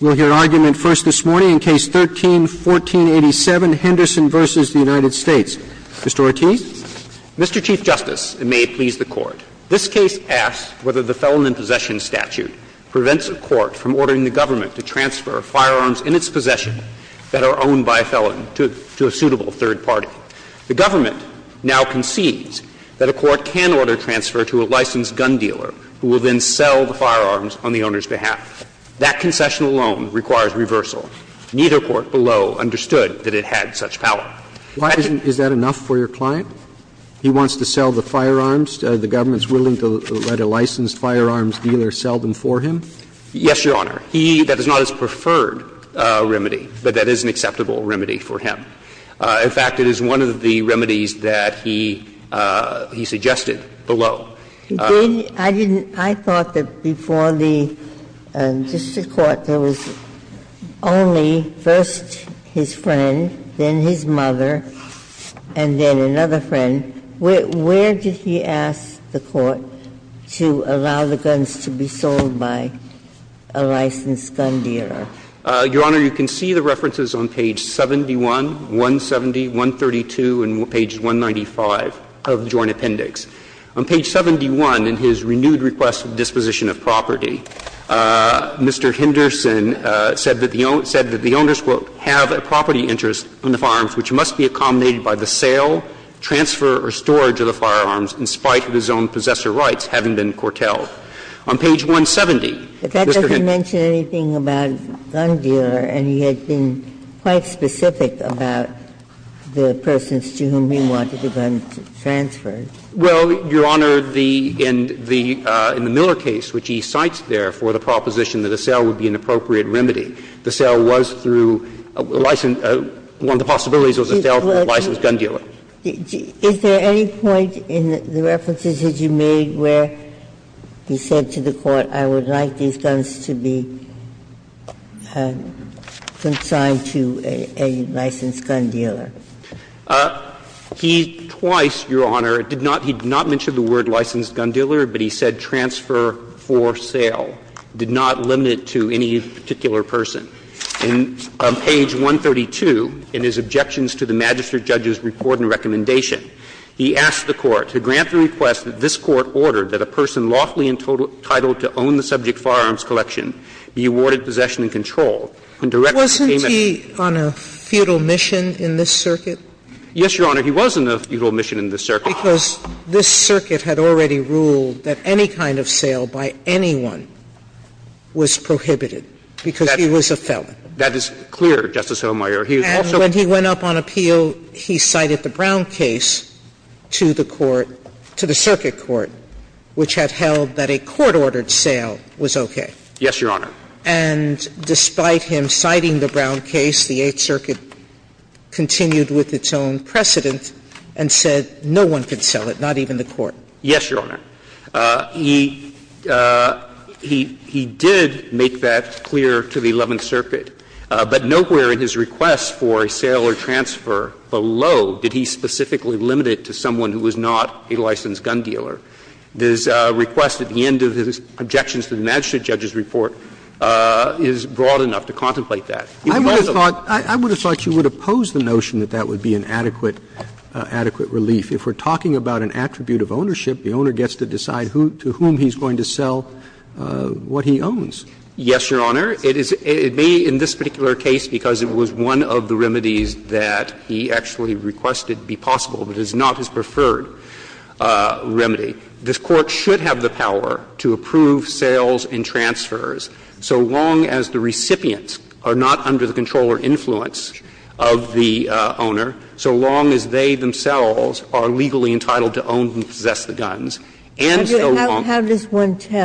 We'll hear argument first this morning in Case 13-1487, Henderson v. United States. Mr. Ortiz. Mr. Chief Justice, and may it please the Court, this case asks whether the Felon in Possession statute prevents a court from ordering the government to transfer firearms in its possession that are owned by a felon to a suitable third party. The government now concedes that a court can order transfer to a licensed gun dealer who will then sell the firearms on the owner's behalf. That concession alone requires reversal. Neither court below understood that it had such power. Why isn't that enough for your client? He wants to sell the firearms. The government is willing to let a licensed firearms dealer sell them for him? Yes, Your Honor. He – that is not his preferred remedy, but that is an acceptable remedy for him. In fact, it is one of the remedies that he suggested below. I didn't – I thought that before the district court, there was only first his friend, then his mother, and then another friend. Where did he ask the court to allow the guns to be sold by a licensed gun dealer? Your Honor, you can see the references on page 71, 170, 132, and page 195 of the Joint Appendix. On page 71, in his renewed request of disposition of property, Mr. Henderson said that the owners will have a property interest on the firearms which must be accommodated by the sale, transfer, or storage of the firearms, in spite of his own possessor rights having been curtailed. On page 170, Mr. Henderson – But that doesn't mention anything about a gun dealer, and he had been quite specific about the persons to whom he wanted the guns transferred. Well, Your Honor, the – in the Miller case, which he cites there for the proposition that a sale would be an appropriate remedy, the sale was through a licensed – one of the possibilities was a sale through a licensed gun dealer. Is there any point in the references that you made where he said to the court, I would like these guns to be consigned to a licensed gun dealer? He twice, Your Honor, did not – he did not mention the word licensed gun dealer, but he said transfer for sale, did not limit it to any particular person. On page 132, in his objections to the magistrate judge's report and recommendation, he asked the court to grant the request that this court ordered that a person lawfully entitled to own the subject firearms collection be awarded possession and control. And directly, it came as – Wasn't he on a feudal mission in this circuit? Yes, Your Honor. He was on a feudal mission in this circuit. Because this circuit had already ruled that any kind of sale by anyone was prohibited because he was a felon. That is clear, Justice Sotomayor. He also – And when he went up on appeal, he cited the Brown case to the court – to the circuit court, which had held that a court-ordered sale was okay. Yes, Your Honor. And despite him citing the Brown case, the Eighth Circuit continued with its own precedent and said no one could sell it, not even the court. Yes, Your Honor. He – he did make that clear to the Eleventh Circuit, but nowhere in his request for a sale or transfer below did he specifically limit it to someone who was not a licensed gun dealer. This request at the end of his objections to the magistrate judge's report is broad enough to contemplate that. He was also – I would have thought – I would have thought you would oppose the notion that that would be an adequate – adequate relief. If we're talking about an attribute of ownership, the owner gets to decide who – to whom he's going to sell what he owns. Yes, Your Honor. It is – it may, in this particular case, because it was one of the remedies that he actually requested be possible, but it's not his preferred remedy. This Court should have the power to approve sales and transfers so long as the recipients are not under the control or influence of the owner, so long as they themselves are legally entitled to own and possess the guns. And so long as the owner is not under the control or influence of the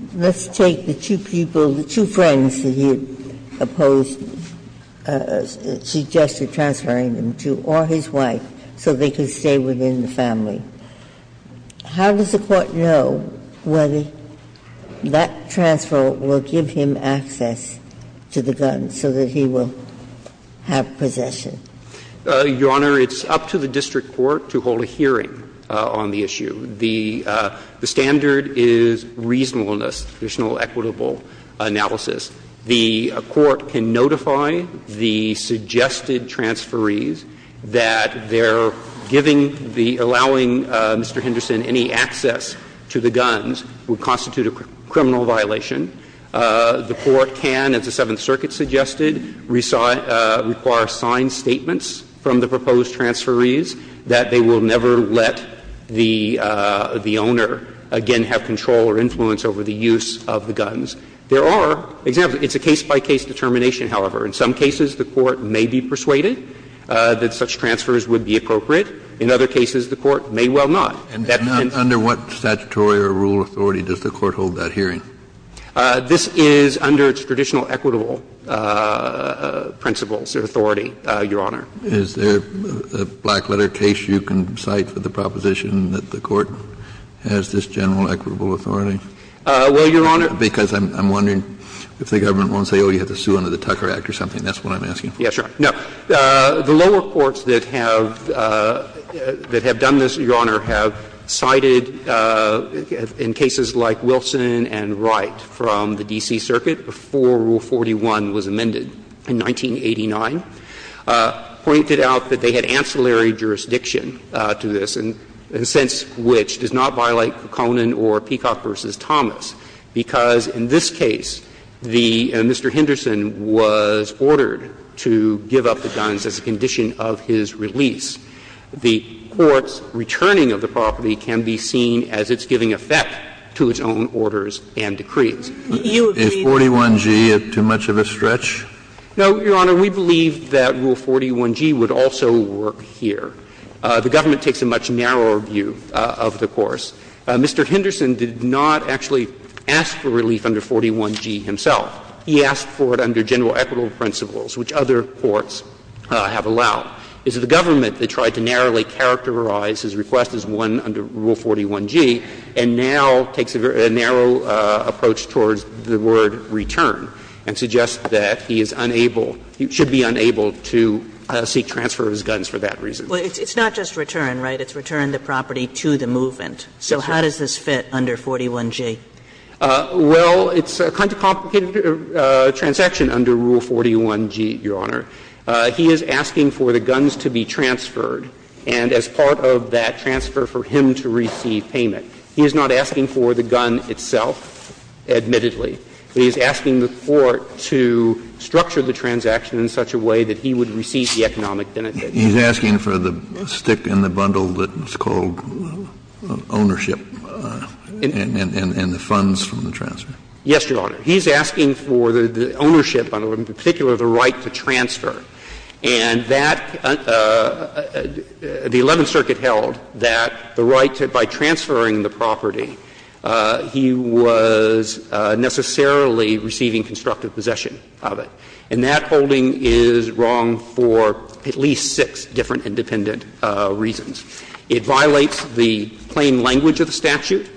owner, so long How does the Court know whether that transfer will give him access to the guns so that he will have possession? Your Honor, it's up to the district court to hold a hearing on the issue. The standard is reasonableness, additional equitable analysis. The Court can notify the suggested transferees that they're giving the – allowing Mr. Henderson any access to the guns would constitute a criminal violation. The Court can, as the Seventh Circuit suggested, require signed statements from the proposed transferees that they will never let the owner, again, have control or influence over the use of the guns. There are examples. It's a case-by-case determination, however. In some cases, the Court may be persuaded that such transfers would be appropriate. In other cases, the Court may well not. Kennedy, under what statutory or rule of authority does the Court hold that hearing? This is under its traditional equitable principles or authority, Your Honor. Is there a black-letter case you can cite for the proposition that the Court has this general equitable authority? Well, Your Honor. Because I'm wondering if the government won't say, oh, you have to sue under the Tucker Act or something. That's what I'm asking. Yes, Your Honor. No. The lower courts that have done this, Your Honor, have cited in cases like Wilson and Wright from the D.C. Circuit before Rule 41 was amended in 1989, pointed out that they had ancillary jurisdiction to this, in a sense which does not violate the statute. And in this case, it's actually a case about Kuckonen or Peacock v. Thomas, because in this case, the Mr. Henderson was ordered to give up the guns as a condition of his release. The court's returning of the property can be seen as its giving effect to its own orders and decrees. You believe that? Is 41g too much of a stretch? No, Your Honor. We believe that Rule 41g would also work here. The government takes a much narrower view of the course. Mr. Henderson did not actually ask for relief under 41g himself. He asked for it under general equitable principles, which other courts have allowed. It's the government that tried to narrowly characterize his request as one under Rule 41g and now takes a very narrow approach towards the word return and suggests that he is unable, should be unable to seek transfer of his guns for that reason. Well, it's not just return, right? It's return the property to the movement. So how does this fit under 41g? Well, it's a kind of complicated transaction under Rule 41g, Your Honor. He is asking for the guns to be transferred and as part of that transfer for him to receive payment. He is not asking for the gun itself, admittedly. He is asking the court to structure the transaction in such a way that he would receive the economic benefit. He's asking for the stick in the bundle that's called ownership and the funds from the transfer. Yes, Your Honor. He's asking for the ownership, in particular the right to transfer. And that, the Eleventh Circuit held that the right to, by transferring the property, he was necessarily receiving constructive possession of it. And that holding is wrong for at least six different independent reasons. It violates the plain language of the statute.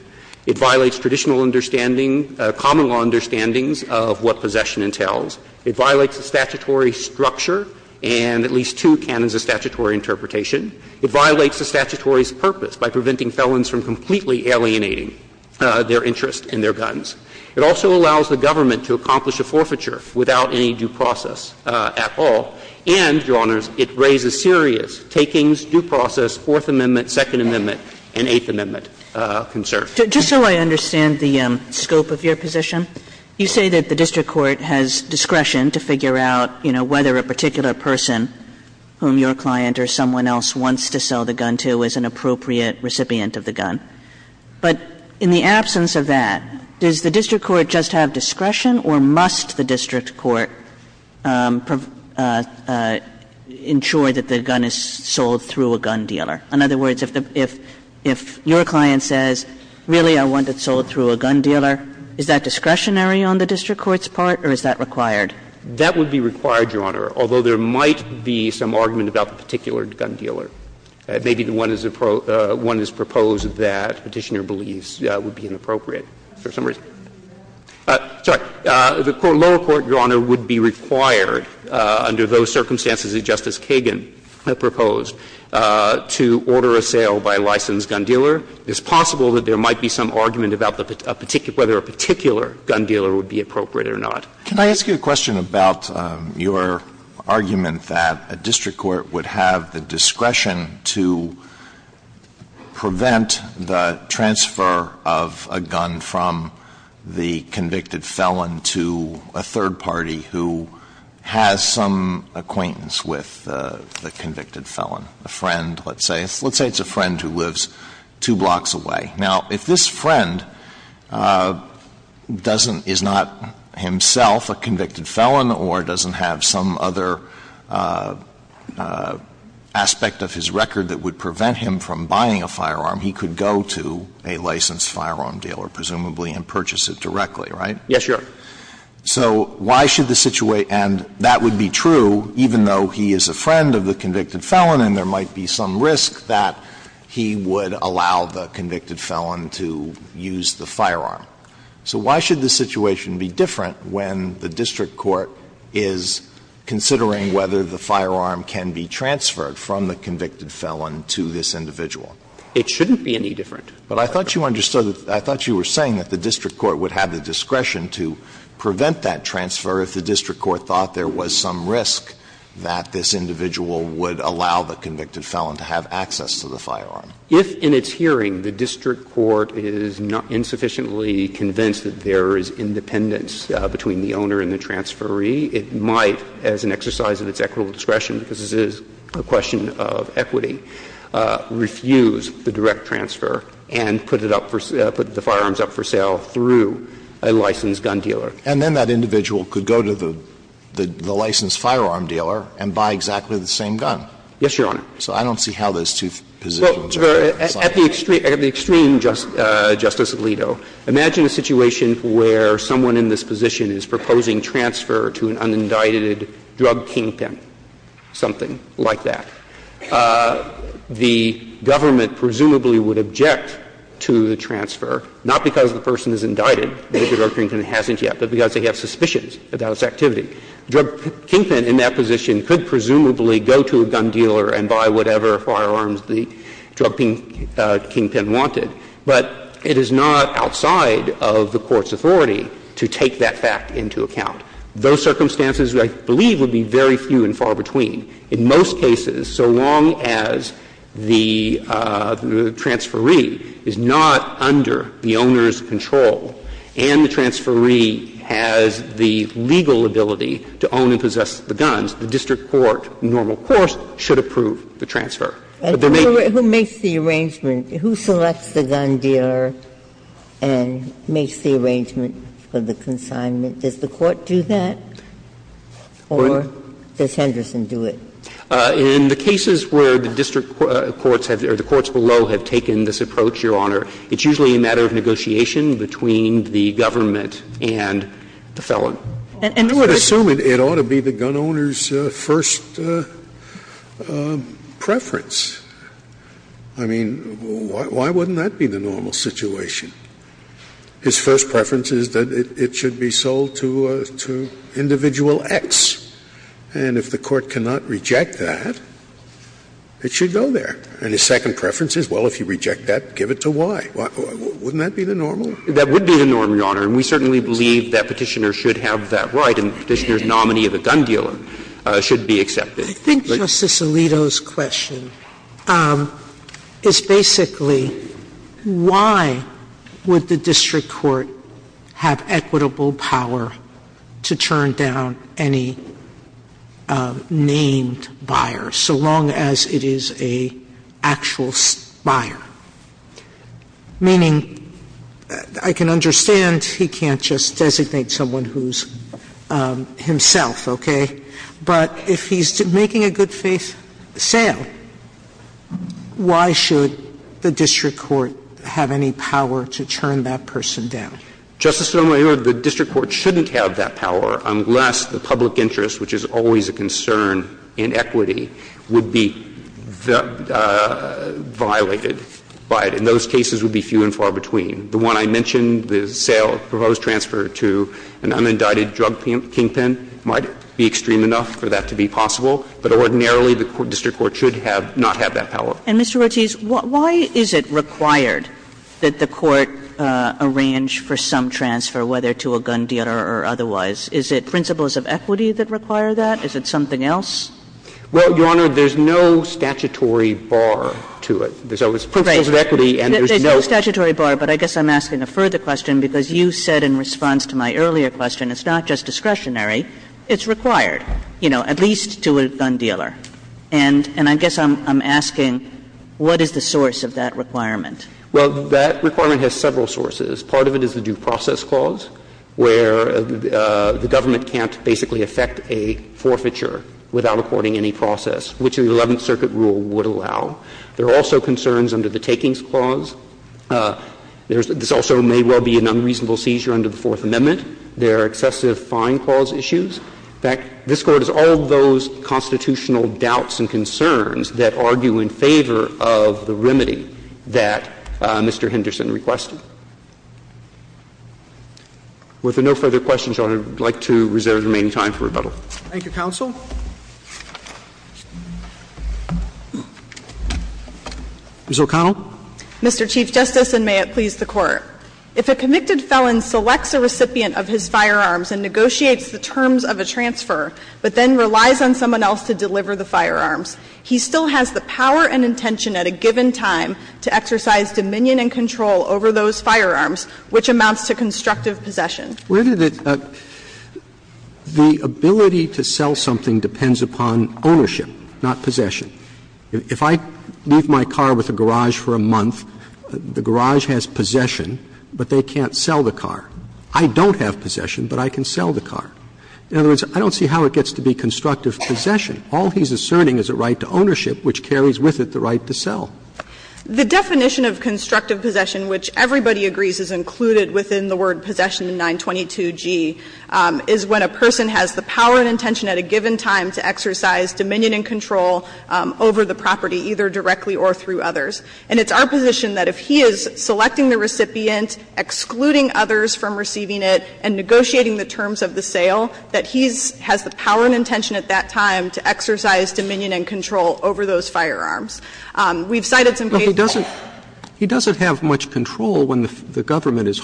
It violates traditional understanding, common law understandings of what possession entails. It violates the statutory structure and at least two canons of statutory interpretation. It violates the statutory's purpose by preventing felons from completely alienating their interests and their guns. It also allows the government to accomplish a forfeiture without any due process at all. And, Your Honors, it raises serious takings, due process, Fourth Amendment, Second Amendment, and Eighth Amendment concerns. Kagan, just so I understand the scope of your position, you say that the district court has discretion to figure out, you know, whether a particular person whom your client or someone else wants to sell the gun to is an appropriate recipient of the gun. But in the absence of that, does the district court just have discretion, or must the district court ensure that the gun is sold through a gun dealer? In other words, if your client says, really, I want it sold through a gun dealer, is that discretionary on the district court's part, or is that required? That would be required, Your Honor, although there might be some argument about the particular gun dealer. Maybe the one that's proposed that Petitioner believes would be inappropriate for some reason. Sorry. The lower court, Your Honor, would be required under those circumstances that Justice Kagan proposed to order a sale by a licensed gun dealer. It's possible that there might be some argument about whether a particular gun dealer would be appropriate or not. Alitoso, can I ask you a question about your argument that a district court would have the discretion to prevent the transfer of a gun from the convicted felon to a third party who has some acquaintance with the convicted felon, a friend, let's say. Let's say it's a friend who lives two blocks away. Now, if this friend doesn't — is not himself a convicted felon or doesn't have some other aspect of his record that would prevent him from buying a firearm, he could go to a licensed firearm dealer, presumably, and purchase it directly, right? Yes, Your Honor. So why should the situation — and that would be true, even though he is a friend of the convicted felon and there might be some risk that he would allow the convicted felon to use the firearm. So why should the situation be different when the district court is considering whether the firearm can be transferred from the convicted felon to this individual? It shouldn't be any different. But I thought you understood that — I thought you were saying that the district court would have the discretion to prevent that transfer if the district court thought there was some risk that this individual would allow the convicted felon to have access to the firearm. If in its hearing the district court is insufficiently convinced that there is independence between the owner and the transferee, it might, as an exercise of its equitable discretion, because this is a question of equity, refuse the direct transfer and put it up for — put the firearms up for sale through a licensed gun dealer. And then that individual could go to the licensed firearm dealer and buy exactly the same gun. Yes, Your Honor. So I don't see how those two positions are different. At the extreme, Justice Alito, imagine a situation where someone in this position is proposing transfer to an unindicted drug kingpin, something like that. The government presumably would object to the transfer, not because the person is indicted, maybe the drug kingpin hasn't yet, but because they have suspicions about its activity. The drug kingpin in that position could presumably go to a gun dealer and buy whatever firearms the drug kingpin wanted. But it is not outside of the court's authority to take that fact into account. Those circumstances, I believe, would be very few and far between. In most cases, so long as the transferee is not under the owner's control and the transferee has the legal ability to own and possess the guns, the district court, under normal course, should approve the transfer. But there may be other cases where the district court has taken this approach, Your Honor, it's usually a matter of negotiation between the government and the felon. And I would assume it ought to be the gun owner's first preference. I mean, why wouldn't that be the normal situation? His first preference is that it should be sold to individual X, and if the court cannot reject that, it should go there. And his second preference is, well, if you reject that, give it to Y. Wouldn't that be the normal? That would be the normal, Your Honor, and we certainly believe that Petitioner should have that right, and Petitioner's nominee of the gun dealer should be accepted. Sotomayor, I think Justice Alito's question is basically, why would the district court have equitable power to turn down any named buyer, so long as it is an actual buyer? Meaning, I can understand he can't just designate someone who's himself, okay? But if he's making a good-faith sale, why should the district court have any power to turn that person down? Justice Sotomayor, the district court shouldn't have that power unless the public buyer is a good-faith buyer, and those cases would be few and far between. The one I mentioned, the sale, the proposed transfer to an unindicted drug kingpin might be extreme enough for that to be possible, but ordinarily the district court should have not had that power. And, Mr. Ortiz, why is it required that the court arrange for some transfer, whether to a gun dealer or otherwise? Is it principles of equity that require that? Is it something else? Well, Your Honor, there's no statutory bar to it. There's always principles of equity and there's no other. Right. There's no statutory bar, but I guess I'm asking a further question because you said in response to my earlier question, it's not just discretionary, it's required, you know, at least to a gun dealer. And I guess I'm asking, what is the source of that requirement? Well, that requirement has several sources. Part of it is the due process clause, where the government can't basically affect a forfeiture without according any process, which the Eleventh Circuit rule would allow. There are also concerns under the takings clause. There's also may well be an unreasonable seizure under the Fourth Amendment. There are excessive fine clause issues. In fact, this Court has all of those constitutional doubts and concerns that argue in favor of the remedy that Mr. Henderson requested. With no further questions, Your Honor, I would like to reserve the remaining time for rebuttal. Thank you, counsel. Ms. O'Connell. Mr. Chief Justice, and may it please the Court. If a convicted felon selects a recipient of his firearms and negotiates the terms of a transfer, but then relies on someone else to deliver the firearms, he still has the power and intention at a given time to exercise dominion and control over those firearms, which amounts to constructive possession. Where did it – the ability to sell something depends upon ownership, not possession. If I leave my car with a garage for a month, the garage has possession, but they can't sell the car. I don't have possession, but I can sell the car. In other words, I don't see how it gets to be constructive possession. All he's asserting is a right to ownership, which carries with it the right to sell. The definition of constructive possession, which everybody agrees is included within the word possession in 922G, is when a person has the power and intention at a given time to exercise dominion and control over the property, either directly or through others. And it's our position that if he is selecting the recipient, excluding others from receiving it, and negotiating the terms of the sale, that he has the power and intention at that time to exercise dominion and control over those firearms. We've cited some cases where that's true. But he's not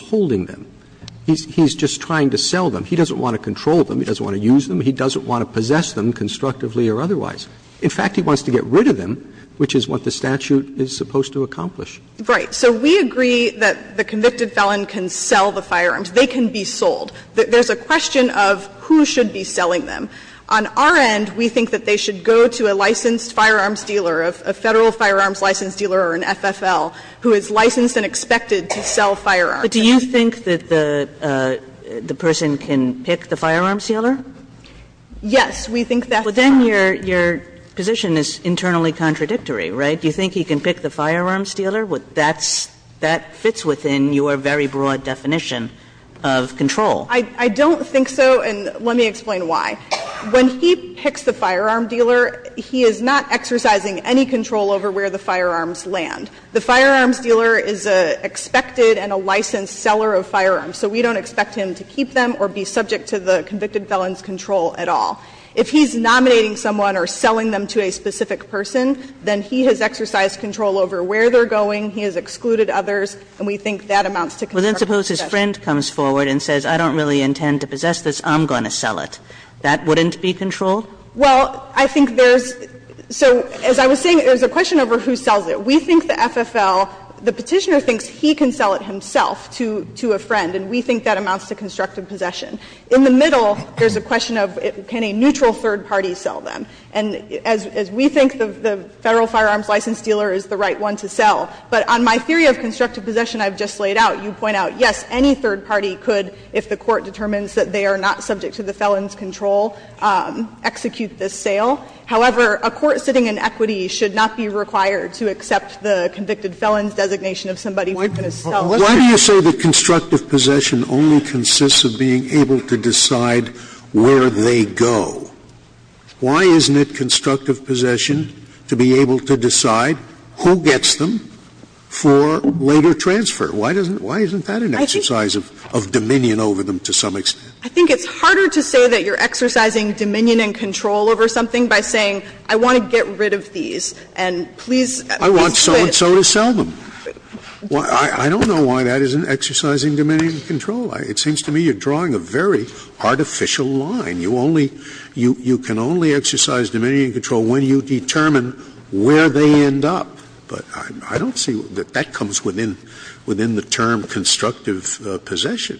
holding them. He's just trying to sell them. He doesn't want to control them, he doesn't want to use them, he doesn't want to possess them constructively or otherwise. In fact, he wants to get rid of them, which is what the statute is supposed to accomplish. Right. So we agree that the convicted felon can sell the firearms, they can be sold. There's a question of who should be selling them. On our end, we think that they should go to a licensed firearms dealer, a Federal Firearms Licensed Dealer or an FFL, who is licensed and expected to sell firearms. But do you think that the person can pick the firearms dealer? Yes, we think that's true. But then your position is internally contradictory, right? Do you think he can pick the firearms dealer? That fits within your very broad definition of control. I don't think so, and let me explain why. When he picks the firearm dealer, he is not exercising any control over where the firearms land. The firearms dealer is an expected and a licensed seller of firearms, so we don't expect him to keep them or be subject to the convicted felon's control at all. If he's nominating someone or selling them to a specific person, then he has exercised control over where they're going, he has excluded others, and we think that amounts to contrary possession. Well, then suppose his friend comes forward and says, I don't really intend to possess this, I'm going to sell it. That wouldn't be control? Well, I think there's so, as I was saying, there's a question over who sells it. We think the FFL, the Petitioner thinks he can sell it himself to a friend, and we think that amounts to constructive possession. In the middle, there's a question of can a neutral third party sell them? And as we think the Federal firearms licensed dealer is the right one to sell, but on my theory of constructive possession I've just laid out, you point out, yes, any third party could, if the Court determines that they are not subject to the felon's control, execute this sale. However, a court sitting in equity should not be required to accept the convicted felon's designation of somebody who's going to sell. Scalia. Why do you say that constructive possession only consists of being able to decide where they go? Why isn't it constructive possession to be able to decide who gets them for later transfer? Why doesn't, why isn't that an exercise of, of dominion over them to some extent? I think it's harder to say that you're exercising dominion and control over something by saying I want to get rid of these and please, please quit. I want so-and-so to sell them. I don't know why that isn't exercising dominion and control. It seems to me you're drawing a very artificial line. You only, you can only exercise dominion and control when you determine where they end up. But I don't see that that comes within, within the term constructive possession.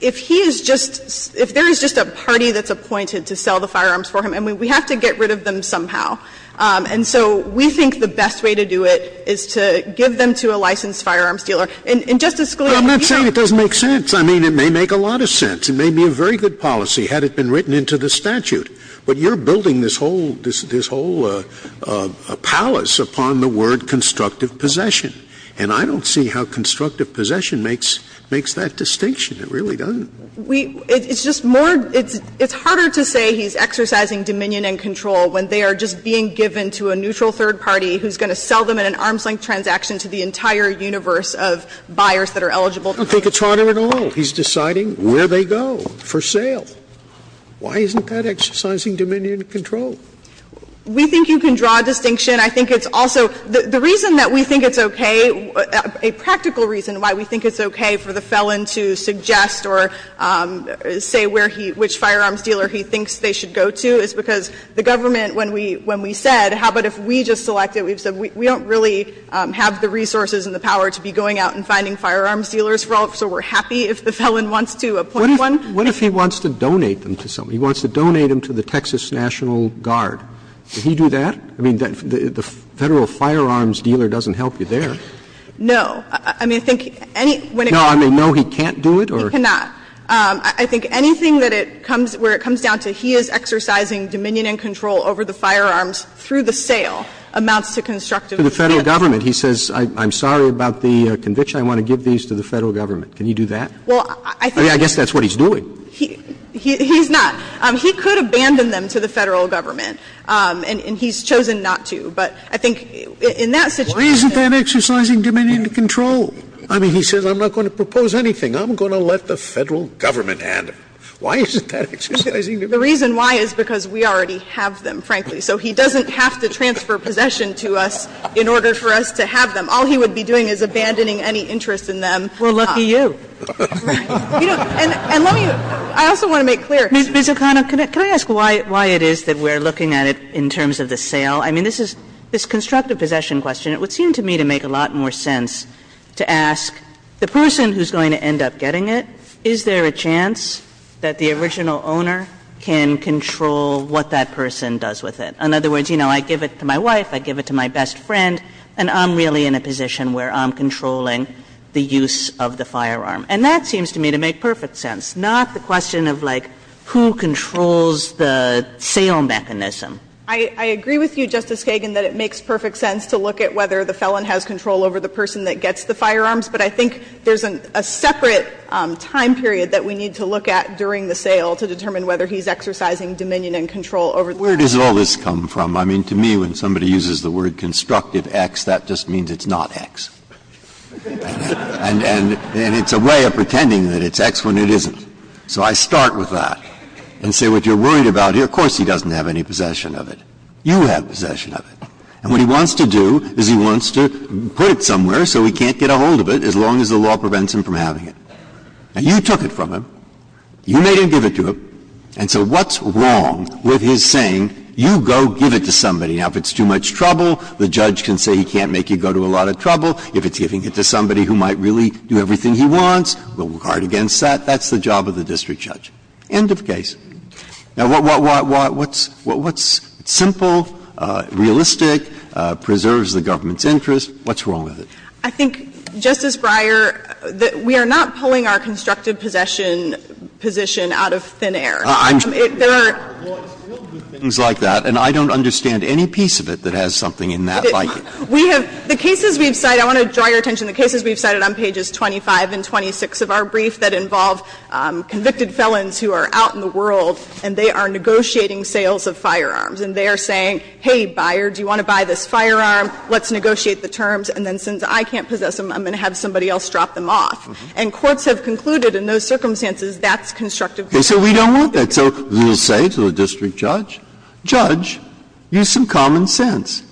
If he is just, if there is just a party that's appointed to sell the firearms for him, and we have to get rid of them somehow. And so we think the best way to do it is to give them to a licensed firearms And Justice Scalia, you know. Scalia. But I'm not saying it doesn't make sense. I mean, it may make a lot of sense. It may be a very good policy had it been written into the statute. But you're building this whole, this whole palace upon the word constructive possession. And I don't see how constructive possession makes, makes that distinction. It really doesn't. We, it's just more, it's harder to say he's exercising dominion and control when they are just being given to a neutral third party who's going to sell them in an arm's-length transaction to the entire universe of buyers that are eligible. I don't think it's harder at all. He's deciding where they go for sale. Why isn't that exercising dominion and control? We think you can draw a distinction. I think it's also, the reason that we think it's okay, a practical reason why we think it's okay for the felon to suggest or say where he, which firearms dealer he thinks they should go to is because the government, when we, when we said, how about if we just selected, we don't really have the resources and the power to be going out and finding firearms dealers, so we're happy if the felon wants to appoint one. Roberts. Roberts. What if he wants to donate them to somebody, he wants to donate them to the Texas National Guard? Would he do that? I mean, the Federal firearms dealer doesn't help you there. No. I mean, I think any, when it comes to that. No, I mean, no, he can't do it or? He cannot. I think anything that it comes, where it comes down to he is exercising dominion and control over the firearms through the sale amounts to constructive incentive. To the Federal government, he says, I'm sorry about the conviction, I want to give these to the Federal government. Can he do that? Well, I think he could. I mean, I guess that's what he's doing. He's not. He could abandon them to the Federal government. And he's chosen not to. But I think in that situation. Why isn't that exercising dominion and control? I mean, he says, I'm not going to propose anything. I'm going to let the Federal government handle it. Why isn't that exercising dominion and control? The reason why is because we already have them, frankly. So he doesn't have to transfer possession to us in order for us to have them. All he would be doing is abandoning any interest in them. Well, lucky you. Right. And let me, I also want to make clear. Ms. O'Connell, can I ask why it is that we're looking at it in terms of the sale? I mean, this is, this constructive possession question, it would seem to me to make a lot more sense to ask the person who's going to end up getting it, is there a chance that the original owner can control what that person does with it? In other words, you know, I give it to my wife, I give it to my best friend, and I'm really in a position where I'm controlling the use of the firearm. And that seems to me to make perfect sense. It's not the question of, like, who controls the sale mechanism. I agree with you, Justice Kagan, that it makes perfect sense to look at whether the felon has control over the person that gets the firearms. But I think there's a separate time period that we need to look at during the sale to determine whether he's exercising dominion and control over the person. Where does all this come from? I mean, to me, when somebody uses the word constructive X, that just means it's not X. And it's a way of pretending that it's X when it isn't. So I start with that and say, what you're worried about here, of course he doesn't have any possession of it. You have possession of it. And what he wants to do is he wants to put it somewhere so he can't get a hold of it as long as the law prevents him from having it. And you took it from him. You made him give it to him. And so what's wrong with his saying, you go give it to somebody? Now, if it's too much trouble, the judge can say he can't make you go to a lot of trouble. If it's giving it to somebody who might really do everything he wants, we'll guard against that. That's the job of the district judge. End of case. Now, what's simple, realistic, preserves the government's interest? What's wrong with it? I think, Justice Breyer, that we are not pulling our constructive possession position out of thin air. There are things like that, and I don't understand any piece of it that has something in that like it. We have the cases we've cited, I want to draw your attention, the cases we've cited on pages 25 and 26 of our brief that involve convicted felons who are out in the world, and they are negotiating sales of firearms. And they are saying, hey, buyer, do you want to buy this firearm? Let's negotiate the terms, and then since I can't possess them, I'm going to have somebody else drop them off. And courts have concluded in those circumstances that's constructive. Breyer, so we don't want that. So we'll say to the district judge, judge, use some common sense.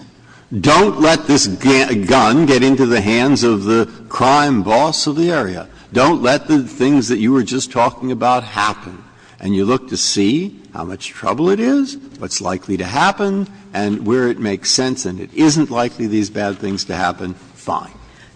Don't let this gun get into the hands of the crime boss of the area. Don't let the things that you were just talking about happen. And you look to see how much trouble it is, what's likely to happen, and where it makes sense, and it isn't likely these bad things to happen, fine.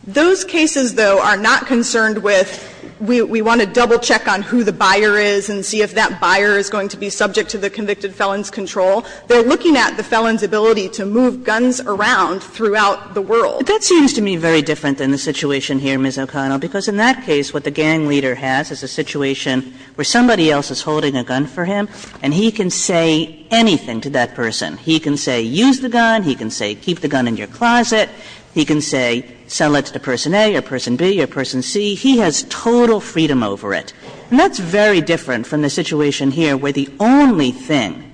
Those cases, though, are not concerned with we want to double check on who the buyer is and see if that buyer is going to be subject to the convicted felon's control. They're looking at the felon's ability to move guns around throughout the world. Kagan. But that seems to me very different than the situation here, Ms. O'Connell, because in that case what the gang leader has is a situation where somebody else is holding a gun for him, and he can say anything to that person. He can say use the gun, he can say keep the gun in your closet, he can say sell it to person A or person B or person C. He has total freedom over it. And that's very different from the situation here where the only thing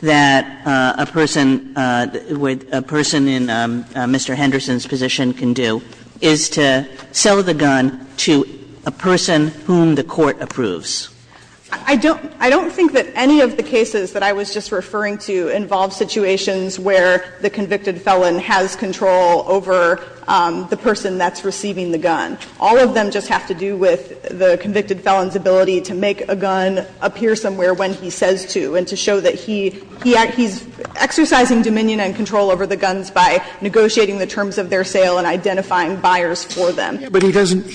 that a person with a person in Mr. Henderson's position can do is to sell the gun to a person whom the court approves. I don't think that any of the cases that I was just referring to involve situations where the convicted felon has control over the person that's receiving the gun. All of them just have to do with the convicted felon's ability to make a gun appear somewhere when he says to and to show that he's exercising dominion and control over the guns by negotiating the terms of their sale and identifying buyers for them. Scalia. But he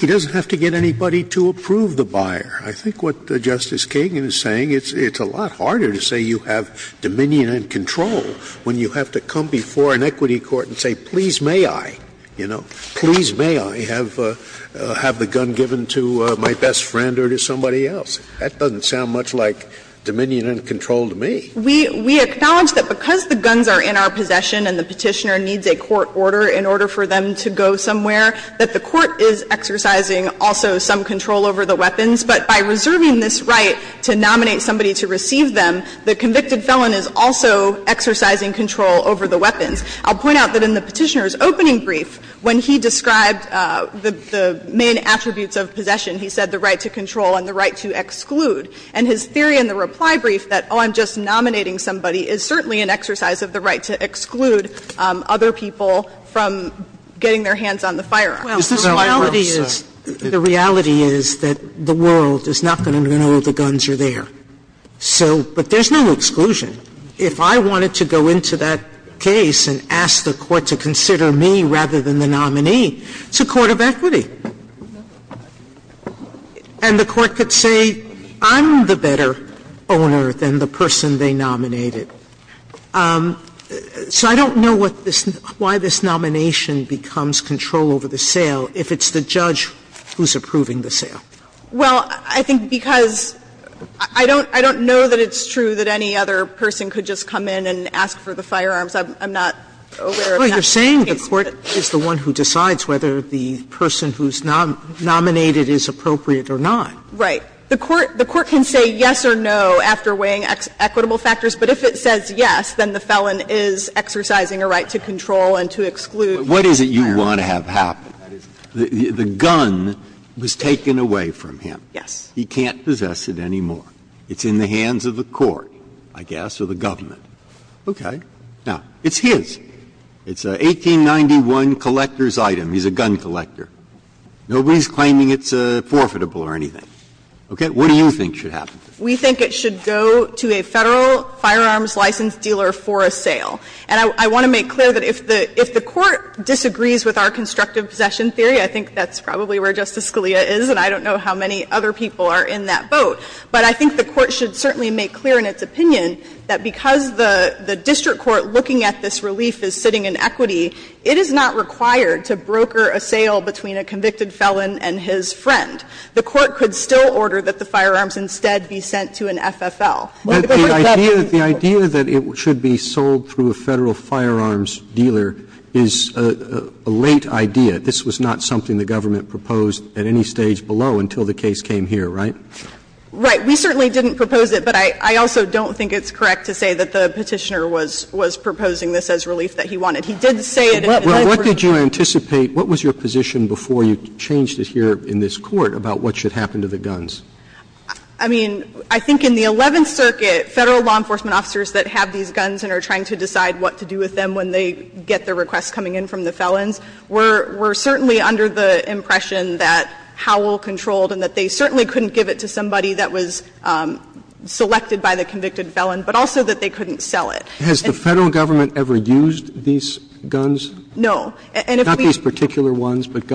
doesn't have to get anybody to approve the buyer. I think what Justice Kagan is saying, it's a lot harder to say you have dominion and control when you have to come before an equity court and say, please may I, you know, have the gun given to my best friend or to somebody else. That doesn't sound much like dominion and control to me. We acknowledge that because the guns are in our possession and the Petitioner needs a court order in order for them to go somewhere, that the court is exercising also some control over the weapons. But by reserving this right to nominate somebody to receive them, the convicted felon is also exercising control over the weapons. I'll point out that in the Petitioner's opening brief, when he described the main attributes of possession, he said the right to control and the right to exclude. And his theory in the reply brief that, oh, I'm just nominating somebody, is certainly an exercise of the right to exclude other people from getting their hands on the firearms. Sotomayor, the reality is that the world is not going to know the guns are there. So, but there's no exclusion. If I wanted to go into that case and ask the court to consider me rather than the nominee, it's a court of equity. And the court could say I'm the better owner than the person they nominated. So I don't know what this why this nomination becomes control over the sale if it's the judge who's approving the sale. Well, I think because I don't know that it's true that any other person could just come in and ask for the firearms. I'm not aware of that case. But you're saying the court is the one who decides whether the person who's nominated is appropriate or not. Right. The court can say yes or no after weighing equitable factors, but if it says yes, then the felon is exercising a right to control and to exclude. What is it you want to have happen? The gun was taken away from him. Yes. He can't possess it anymore. It's in the hands of the court, I guess, or the government. Okay. Now, it's his. It's an 1891 collector's item. He's a gun collector. Nobody's claiming it's forfeitable or anything. Okay. What do you think should happen? We think it should go to a Federal firearms license dealer for a sale. And I want to make clear that if the Court disagrees with our constructive possession theory, I think that's probably where Justice Scalia is, and I don't know how many other people are in that boat. But I think the Court should certainly make clear in its opinion that because the district court looking at this relief is sitting in equity, it is not required to broker a sale between a convicted felon and his friend. The Court could still order that the firearms instead be sent to an FFL. Roberts The idea that it should be sold through a Federal firearms dealer is a late idea. This was not something the government proposed at any stage below until the case came here, right? Right. We certainly didn't propose it, but I also don't think it's correct to say that the Petitioner was proposing this as relief that he wanted. He did say it in the first place. What did you anticipate? happen to the guns? I mean, I think in the Eleventh Circuit, Federal law enforcement officers that have these guns and are trying to decide what to do with them when they get their requests coming in from the felons were certainly under the impression that Howell controlled and that they certainly couldn't give it to somebody that was selected by the convicted felon, but also that they couldn't sell it. And if we Roberts Has the Federal government ever used these guns? No. And if we Roberts I think there would need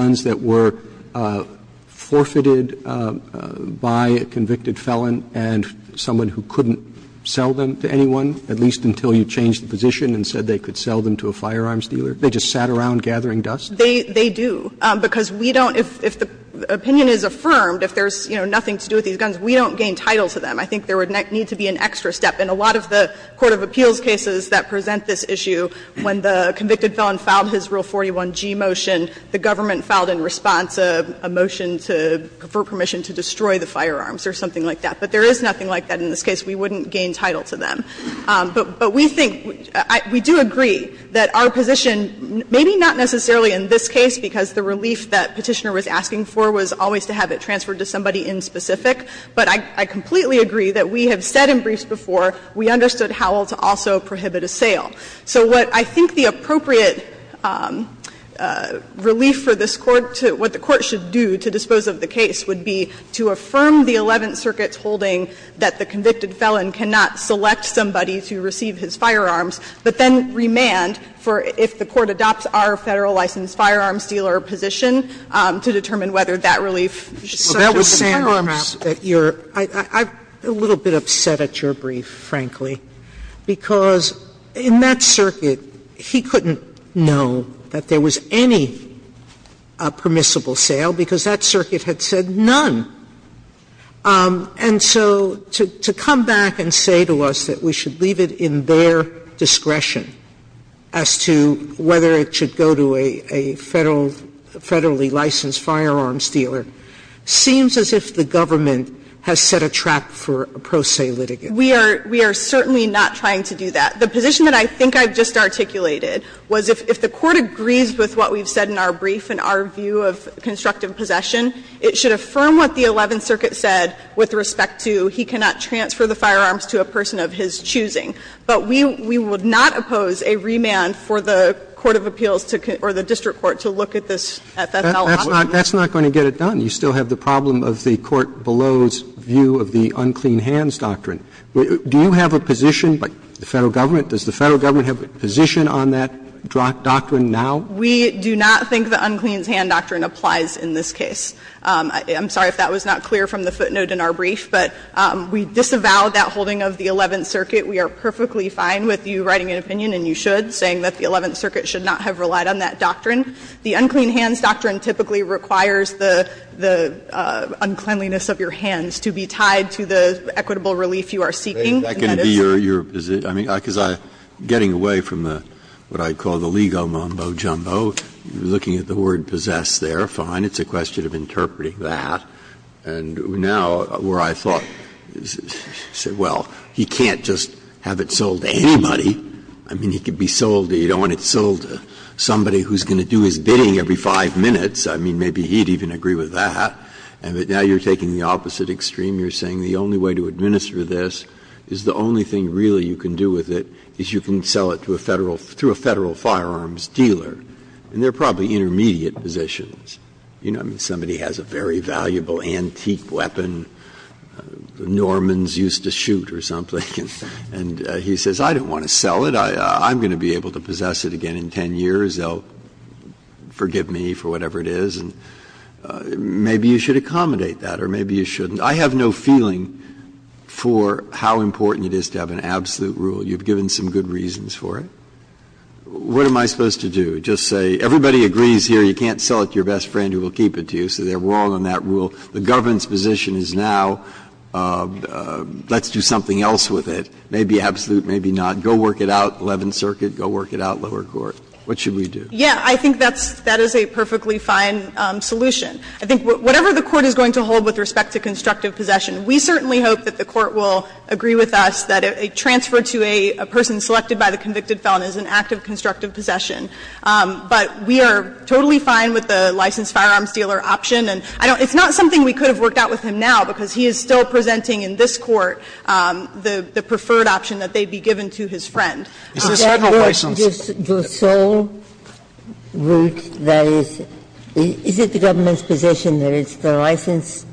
to be an extra step in a lot of the court of appeals cases that present this issue. When the convicted felon filed his Rule 41G motion, the government filed in response a motion to confer permission to destroy the firearms dealer. And I don't think that there is anything like that in this case. We wouldn't gain title to them. But we think, we do agree that our position, maybe not necessarily in this case, because the relief that Petitioner was asking for was always to have it transferred to somebody in specific, but I completely agree that we have said in briefs before we understood Howell to also prohibit a sale. So what I think the appropriate relief for this Court to what the Court should do to affirm the Eleventh Circuit's holding that the convicted felon cannot select somebody to receive his firearms, but then remand for if the Court adopts our Federal license firearms dealer position to determine whether that relief is subject to the firearms trap. Sotomayor I'm a little bit upset at your brief, frankly, because in that circuit, he couldn't know that there was any permissible sale, because that circuit had said none. And so to come back and say to us that we should leave it in their discretion as to whether it should go to a Federal, Federally licensed firearms dealer seems as if the government has set a trap for a pro se litigant. We are certainly not trying to do that. The position that I think I just articulated was if the Court agrees with what we've said in our brief and our view of constructive possession, it should affirm what the Eleventh Circuit said with respect to he cannot transfer the firearms to a person of his choosing. But we would not oppose a remand for the court of appeals to or the district court to look at this at that felony. Roberts That's not going to get it done. You still have the problem of the court below's view of the unclean hands doctrine. Do you have a position, the Federal Government, does the Federal Government have a position on that doctrine now? O'Connell We do not think the unclean hands doctrine applies in this case. I'm sorry if that was not clear from the footnote in our brief, but we disavow that holding of the Eleventh Circuit. We are perfectly fine with you writing an opinion, and you should, saying that the Eleventh Circuit should not have relied on that doctrine. The unclean hands doctrine typically requires the uncleanliness of your hands to be understood. And that is what you are seeking, and that is what you are seeking. Breyer That can be your position. I mean, because I'm getting away from what I call the legal mumbo-jumbo. Looking at the word possessed there, fine, it's a question of interpreting that. And now where I thought, well, he can't just have it sold to anybody. I mean, he could be sold to, you don't want it sold to somebody who's going to do his bidding every five minutes. I mean, maybe he'd even agree with that. And now you're taking the opposite extreme. You're saying the only way to administer this is the only thing really you can do with it is you can sell it to a Federal, to a Federal firearms dealer. And they're probably intermediate positions. You know, I mean, somebody has a very valuable antique weapon the Normans used to shoot or something, and he says, I don't want to sell it. I'm going to be able to possess it again in 10 years. They'll forgive me for whatever it is. And maybe you should accommodate that, or maybe you shouldn't. I have no feeling for how important it is to have an absolute rule. You've given some good reasons for it. What am I supposed to do? Just say everybody agrees here you can't sell it to your best friend who will keep it to you, so they're wrong on that rule. The government's position is now let's do something else with it, maybe absolute, maybe not. Go work it out, Eleventh Circuit, go work it out, lower court. What should we do? O'Connell. Yeah, I think that's that is a perfectly fine solution. I think whatever the Court is going to hold with respect to constructive possession, we certainly hope that the Court will agree with us that a transfer to a person selected by the convicted felon is an act of constructive possession. But we are totally fine with the licensed firearms dealer option. And I don't – it's not something we could have worked out with him now, because he is still presenting in this Court the preferred option that they be given to his friend. Is this Federal license? The sole route that is – is it the government's position that it's the licensed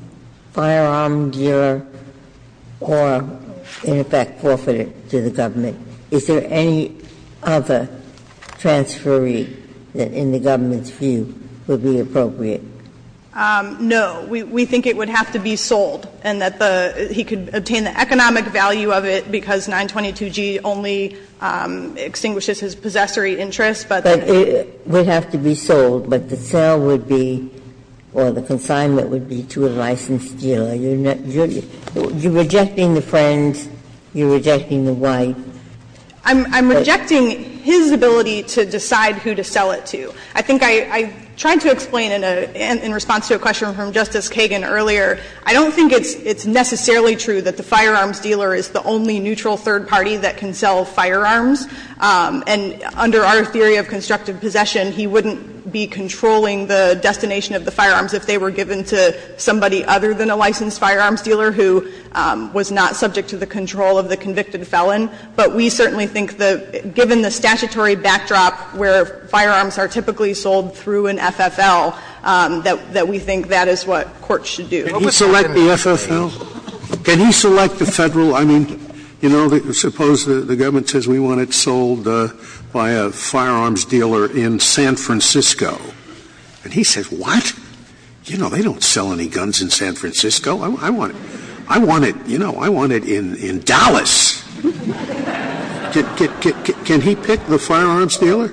firearm dealer or, in effect, forfeited to the government? Is there any other transferee that, in the government's view, would be appropriate? No. We think it would have to be sold and that the – he could obtain the economic value of it because 922G only extinguishes his possessory interest, but the – But it would have to be sold, but the sale would be – or the consignment would be to a licensed dealer. You're rejecting the friend, you're rejecting the wife. I'm rejecting his ability to decide who to sell it to. I think I tried to explain in a – in response to a question from Justice Kagan earlier, I don't think it's necessarily true that the firearms dealer is the only neutral third party that can sell firearms. And under our theory of constructive possession, he wouldn't be controlling the destination of the firearms if they were given to somebody other than a licensed firearms dealer who was not subject to the control of the convicted felon. But we certainly think that, given the statutory backdrop where firearms are typically sold through an FFL, that we think that is what courts should do. Scalia. Can he select the FFL? Can he select the Federal – I mean, you know, suppose the government says we want it sold by a firearms dealer in San Francisco. And he says, what? You know, they don't sell any guns in San Francisco. I want it – I want it, you know, I want it in Dallas. Can he pick the firearms dealer?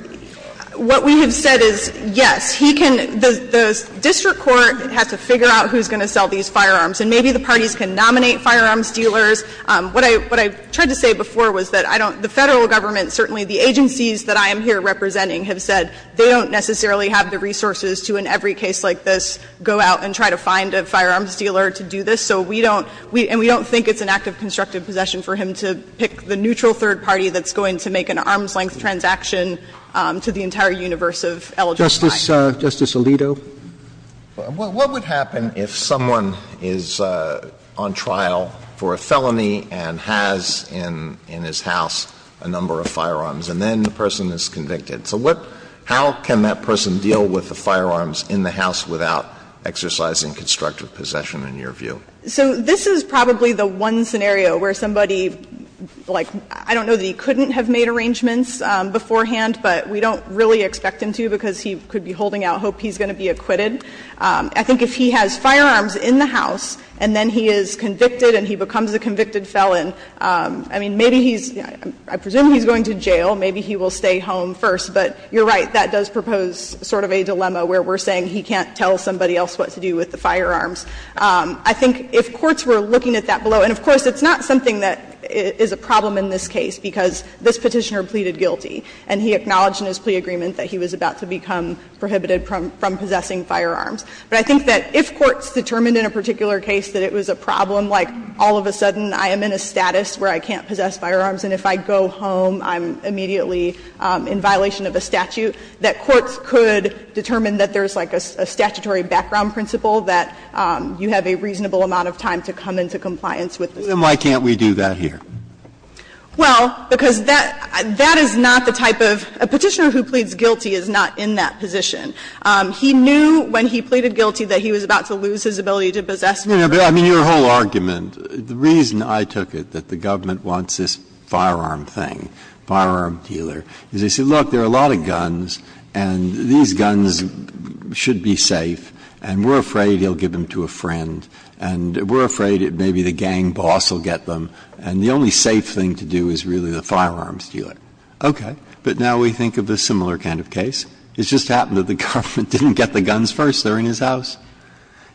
What we have said is, yes, he can – the district court has to figure out who is going to sell these firearms, and maybe the parties can nominate firearms dealers. What I – what I tried to say before was that I don't – the Federal Government, certainly the agencies that I am here representing, have said they don't necessarily have the resources to, in every case like this, go out and try to find a firearms dealer to do this. So we don't – and we don't think it's an act of constructive possession for him to pick the neutral third party that's going to make an arm's-length transaction to the entire universe of eligible clients. Roberts. Justice Alito. What would happen if someone is on trial for a felony and has in his house a number of firearms, and then the person is convicted? So what – how can that person deal with the firearms in the house without exercising constructive possession, in your view? So this is probably the one scenario where somebody, like, I don't know that he couldn't have made arrangements beforehand, but we don't really expect him to because he could be holding out hope he's going to be acquitted. I think if he has firearms in the house and then he is convicted and he becomes a convicted felon, I mean, maybe he's – I presume he's going to jail. Maybe he will stay home first. But you're right, that does propose sort of a dilemma where we're saying he can't tell somebody else what to do with the firearms. I think if courts were looking at that below – and, of course, it's not something that is a problem in this case because this Petitioner pleaded guilty and he acknowledged in his plea agreement that he was about to become prohibited from possessing firearms. But I think that if courts determined in a particular case that it was a problem, like all of a sudden I am in a status where I can't possess firearms and if I go home I'm immediately in violation of a statute, that courts could determine that there is a statutory background principle that you have a reasonable amount of time to come into compliance with the statute. Breyer, why can't we do that here? Well, because that is not the type of – a Petitioner who pleads guilty is not in that position. He knew when he pleaded guilty that he was about to lose his ability to possess firearms. I mean, your whole argument, the reason I took it that the government wants this firearm thing, firearm dealer, is they say, look, there are a lot of guns and these guns should be safe, and we're afraid he'll give them to a friend, and we're afraid that maybe the gang boss will get them, and the only safe thing to do is really the firearms dealer. Okay. But now we think of a similar kind of case. It just happened that the government didn't get the guns first. They were in his house.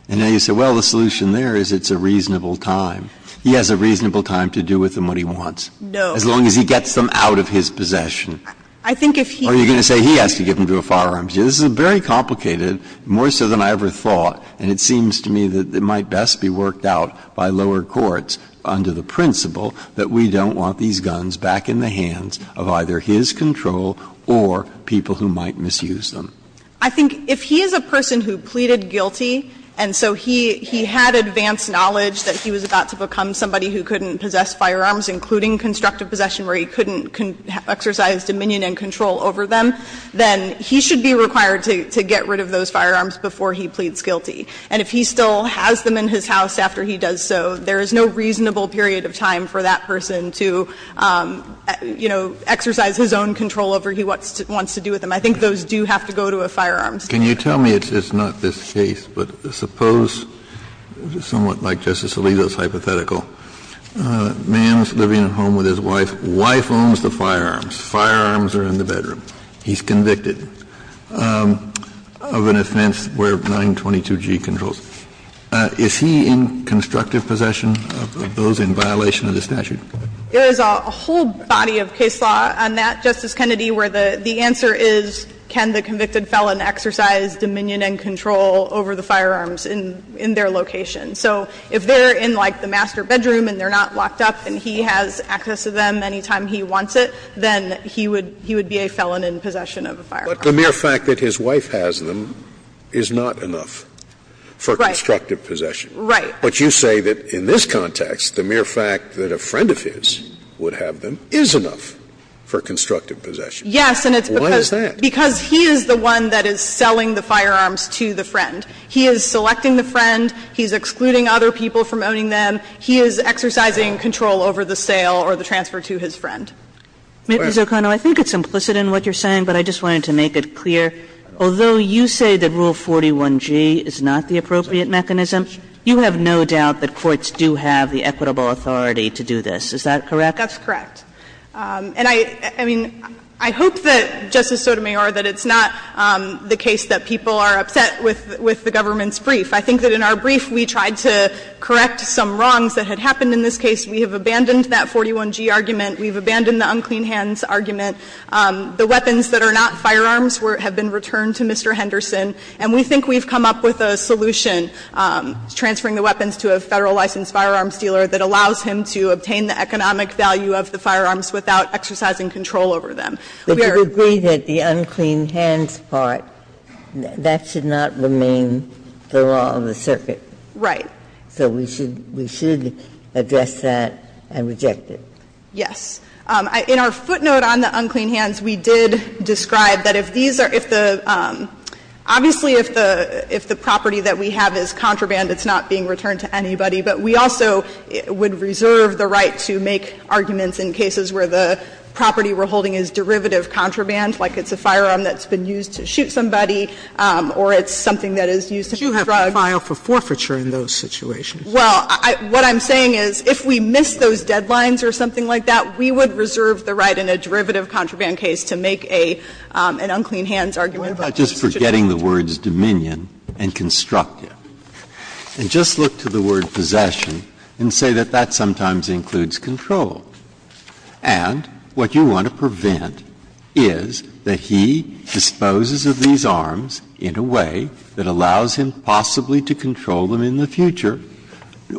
And now you say, well, the solution there is it's a reasonable time. He has a reasonable time to do with them what he wants. No. As long as he gets them out of his possession. I think if he – Or you're going to say he has to give them to a firearms dealer. This is very complicated, more so than I ever thought, and it seems to me that it might best be worked out by lower courts under the principle that we don't want these guns back in the hands of either his control or people who might misuse them. I think if he is a person who pleaded guilty, and so he had advanced knowledge that he was about to become somebody who couldn't possess firearms, including constructive possession where he couldn't exercise dominion and control over them, then he should be required to get rid of those firearms before he pleads guilty. And if he still has them in his house after he does so, there is no reasonable period of time for that person to, you know, exercise his own control over what he wants to do with them. I think those do have to go to a firearms dealer. Kennedy, it's not this case, but suppose, somewhat like Justice Alito's hypothetical, a man is living at home with his wife. Wife owns the firearms. Firearms are in the bedroom. He's convicted of an offense where 922G controls. Is he in constructive possession of those in violation of the statute? There is a whole body of case law on that, Justice Kennedy, where the answer is can the convicted felon exercise dominion and control over the firearms in their location. So if they're in, like, the master bedroom and they're not locked up and he has access to them any time he wants it, then he would be a felon in possession of a firearm. But the mere fact that his wife has them is not enough for constructive possession. Right. But you say that in this context, the mere fact that a friend of his would have them is enough for constructive possession. Yes, and it's because he is the one that is selling the firearms to the friend. He is selecting the friend. He's excluding other people from owning them. He is exercising control over the sale or the transfer to his friend. Ms. O'Connell, I think it's implicit in what you're saying, but I just wanted to make it clear, although you say that Rule 41G is not the appropriate mechanism, you have no doubt that courts do have the equitable authority to do this. Is that correct? That's correct. And I mean, I hope that, Justice Sotomayor, that it's not the case that people are upset with the government's brief. I think that in our brief, we tried to correct some wrongs that had happened in this case. We have abandoned that 41G argument. We've abandoned the unclean hands argument. The weapons that are not firearms have been returned to Mr. Henderson, and we think we've come up with a solution, transferring the weapons to a Federal licensed firearms dealer that allows him to obtain the economic value of the firearms without exercising control over them. We are. Ginsburg. But you agree that the unclean hands part, that should not remain the law of the circuit. Right. So we should address that and reject it. Yes. In our footnote on the unclean hands, we did describe that if these are the – obviously, if the property that we have is contraband, it's not being returned to anybody. But we also would reserve the right to make arguments in cases where the property we're holding is derivative contraband, like it's a firearm that's been used to shoot somebody or it's something that is used as a drug. But you have filed for forfeiture in those situations. Well, what I'm saying is if we miss those deadlines or something like that, we would reserve the right in a derivative contraband case to make an unclean hands argument about the situation. What about just forgetting the words dominion and constructive, and just look to the word possession and say that that sometimes includes control? And what you want to prevent is that he disposes of these arms in a way that allows him possibly to control them in the future,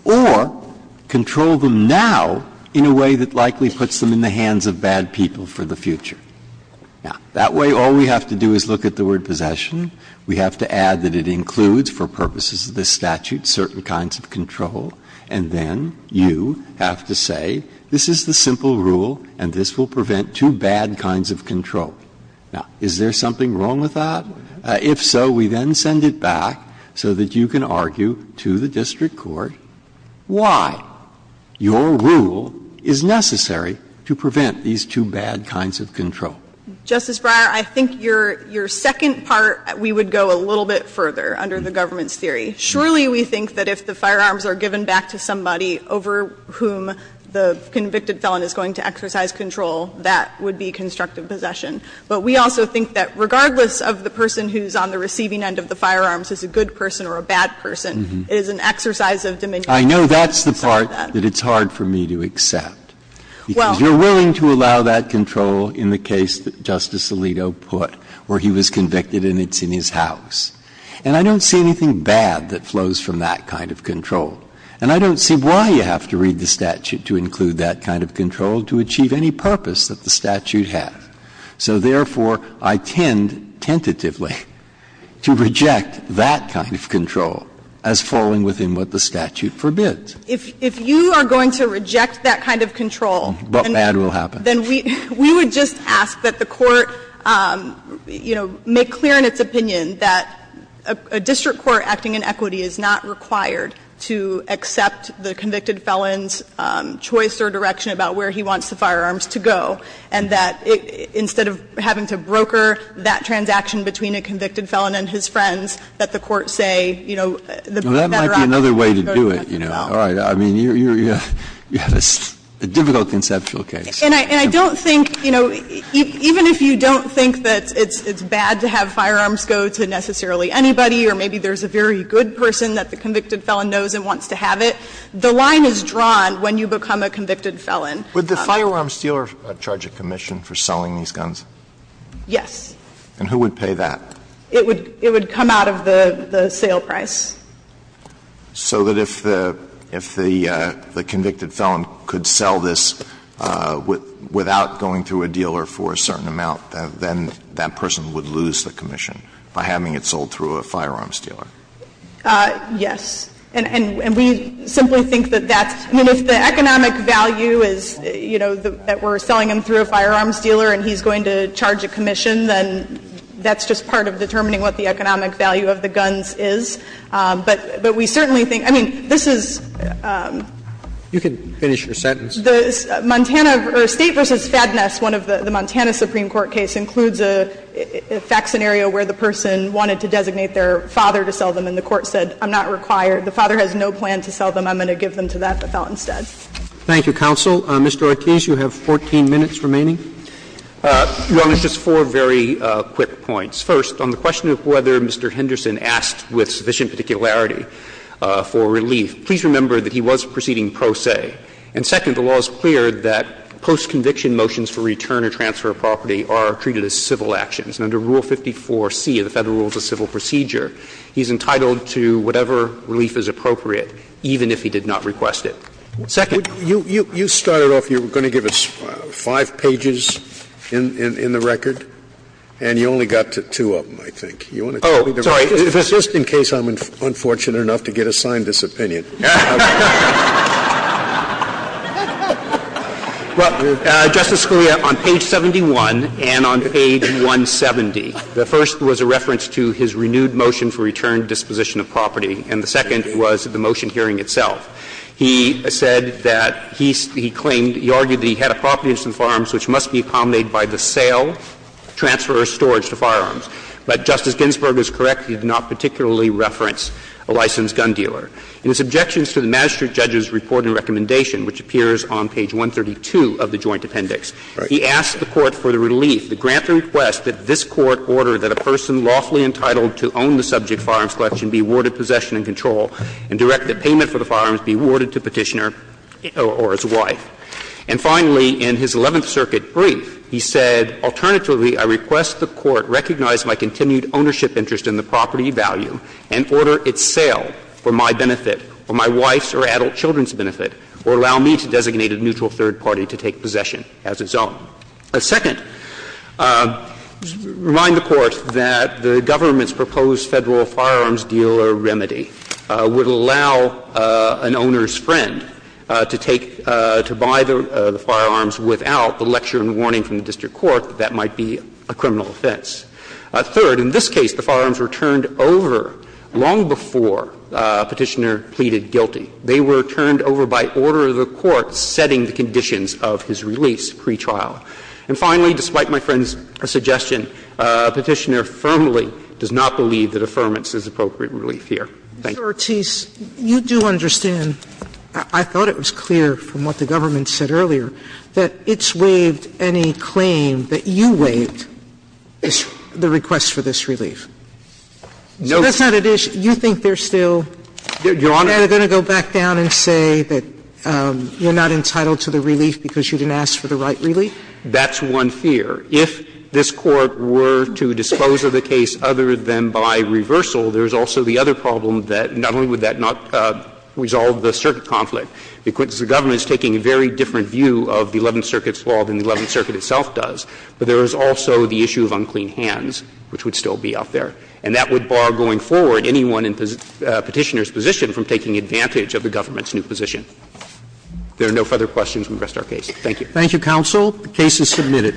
or control them now in a way that likely puts them in the hands of bad people for the future. Now, that way, all we have to do is look at the word possession. We have to add that it includes, for purposes of this statute, certain kinds of control. And then you have to say, this is the simple rule, and this will prevent two bad kinds of control. Now, is there something wrong with that? If so, we then send it back so that you can argue to the district court why your rule is necessary to prevent these two bad kinds of control. Justice Breyer, I think your second part, we would go a little bit further under the government's theory. Surely we think that if the firearms are given back to somebody over whom the convicted felon is going to exercise control, that would be constructive possession. But we also think that regardless of the person who is on the receiving end of the firearms is a good person or a bad person, it is an exercise of dominion. Breyer, I know that's the part that it's hard for me to accept. Because you're willing to allow that control in the case that Justice Alito put, where he was convicted and it's in his house. And I don't see anything bad that flows from that kind of control. And I don't see why you have to read the statute to include that kind of control to achieve any purpose that the statute has. So, therefore, I tend tentatively to reject that kind of control as falling within what the statute forbids. If you are going to reject that kind of control, then we would just ask that the Court, you know, make clear in its opinion that a district court acting in equity is not required to accept the convicted felon's choice or direction about where he wants the firearms to go, and that instead of having to broker that transaction between a convicted felon and his friends, that the Court say, you know, the matter of fact that they're going to have to go out. Alito, I mean, you have a difficult conceptual case. And I don't think, you know, even if you don't think that it's bad to have firearms go to necessarily anybody, or maybe there's a very good person that the convicted felon knows and wants to have it, the line is drawn when you become a convicted felon. Alito, would the firearms dealer charge a commission for selling these guns? Yes. And who would pay that? It would come out of the sale price. So that if the convicted felon could sell this without going through a dealer for a certain amount, then that person would lose the commission by having it sold through a firearms dealer? Yes. And we simply think that that's the economic value is, you know, that we're selling him through a firearms dealer and he's going to charge a commission, then that's just part of determining what the economic value of the guns is. But we certainly think, I mean, this is the Montana or State v. Fadness, one of the Montana Supreme Court case, includes a fact scenario where the person wanted to designate their father to sell them and the court said, I'm not required, the father has no plan to sell them, I'm going to give them to that felon instead. Thank you, counsel. Mr. Ortiz, you have 14 minutes remaining. Well, it's just four very quick points. First, on the question of whether Mr. Henderson asked with sufficient particularity for relief, please remember that he was proceeding pro se. And second, the law is clear that post-conviction motions for return or transfer of property are treated as civil actions. Under Rule 54C of the Federal Rules of Civil Procedure, he's entitled to whatever relief is appropriate, even if he did not request it. Second. You started off, you were going to give us five pages in the record, and you only got to two of them, I think. Oh, sorry. Just in case I'm unfortunate enough to get assigned this opinion. Justice Scalia, on page 71 and on page 170, the first was a reference to his renewed motion for return disposition of property, and the second was the motion hearing itself. He said that he claimed, he argued that he had a property in the firearms which must be accommodated by the sale, transfer, or storage to firearms. But Justice Ginsburg is correct. He did not particularly reference a licensed gun dealer. In his objections to the magistrate judge's report and recommendation, which appears on page 132 of the joint appendix, he asked the Court for the relief to grant the request that this Court order that a person lawfully entitled to own the subject firearms collection be awarded possession and control and direct the payment for the firearms be awarded to the Petitioner or his wife. And finally, in his Eleventh Circuit brief, he said, Alternatively, I request the Court recognize my continued ownership interest in the property value and order its sale for my benefit, for my wife's or adult children's benefit, or allow me to designate a neutral third party to take possession as its own. Second, remind the Court that the government's proposed Federal firearms dealer remedy would allow an owner's friend to take to buy the firearms without the lecture and warning from the district court that that might be a criminal offense. Third, in this case, the firearms were turned over long before Petitioner pleaded guilty. They were turned over by order of the Court setting the conditions of his release pre-trial. And finally, despite my friend's suggestion, Petitioner firmly does not believe that affirmance is appropriate relief here. Sotomayor, you do understand, I thought it was clear from what the government said earlier, that it's waived any claim that you waived, the request for this relief. So that's not an issue. You think they're still going to go back down and say that you're not entitled to the relief because you didn't ask for the right relief? That's one fear. If this Court were to dispose of the case other than by reversal, there's also the other problem that not only would that not resolve the circuit conflict, because the government is taking a very different view of the Eleventh Circuit's law than the Eleventh Circuit itself does, but there is also the issue of unclean hands, which would still be up there. And that would bar, going forward, anyone in Petitioner's position from taking advantage of the government's new position. If there are no further questions, we rest our case. Thank you. Thank you, Counsel. The case is submitted.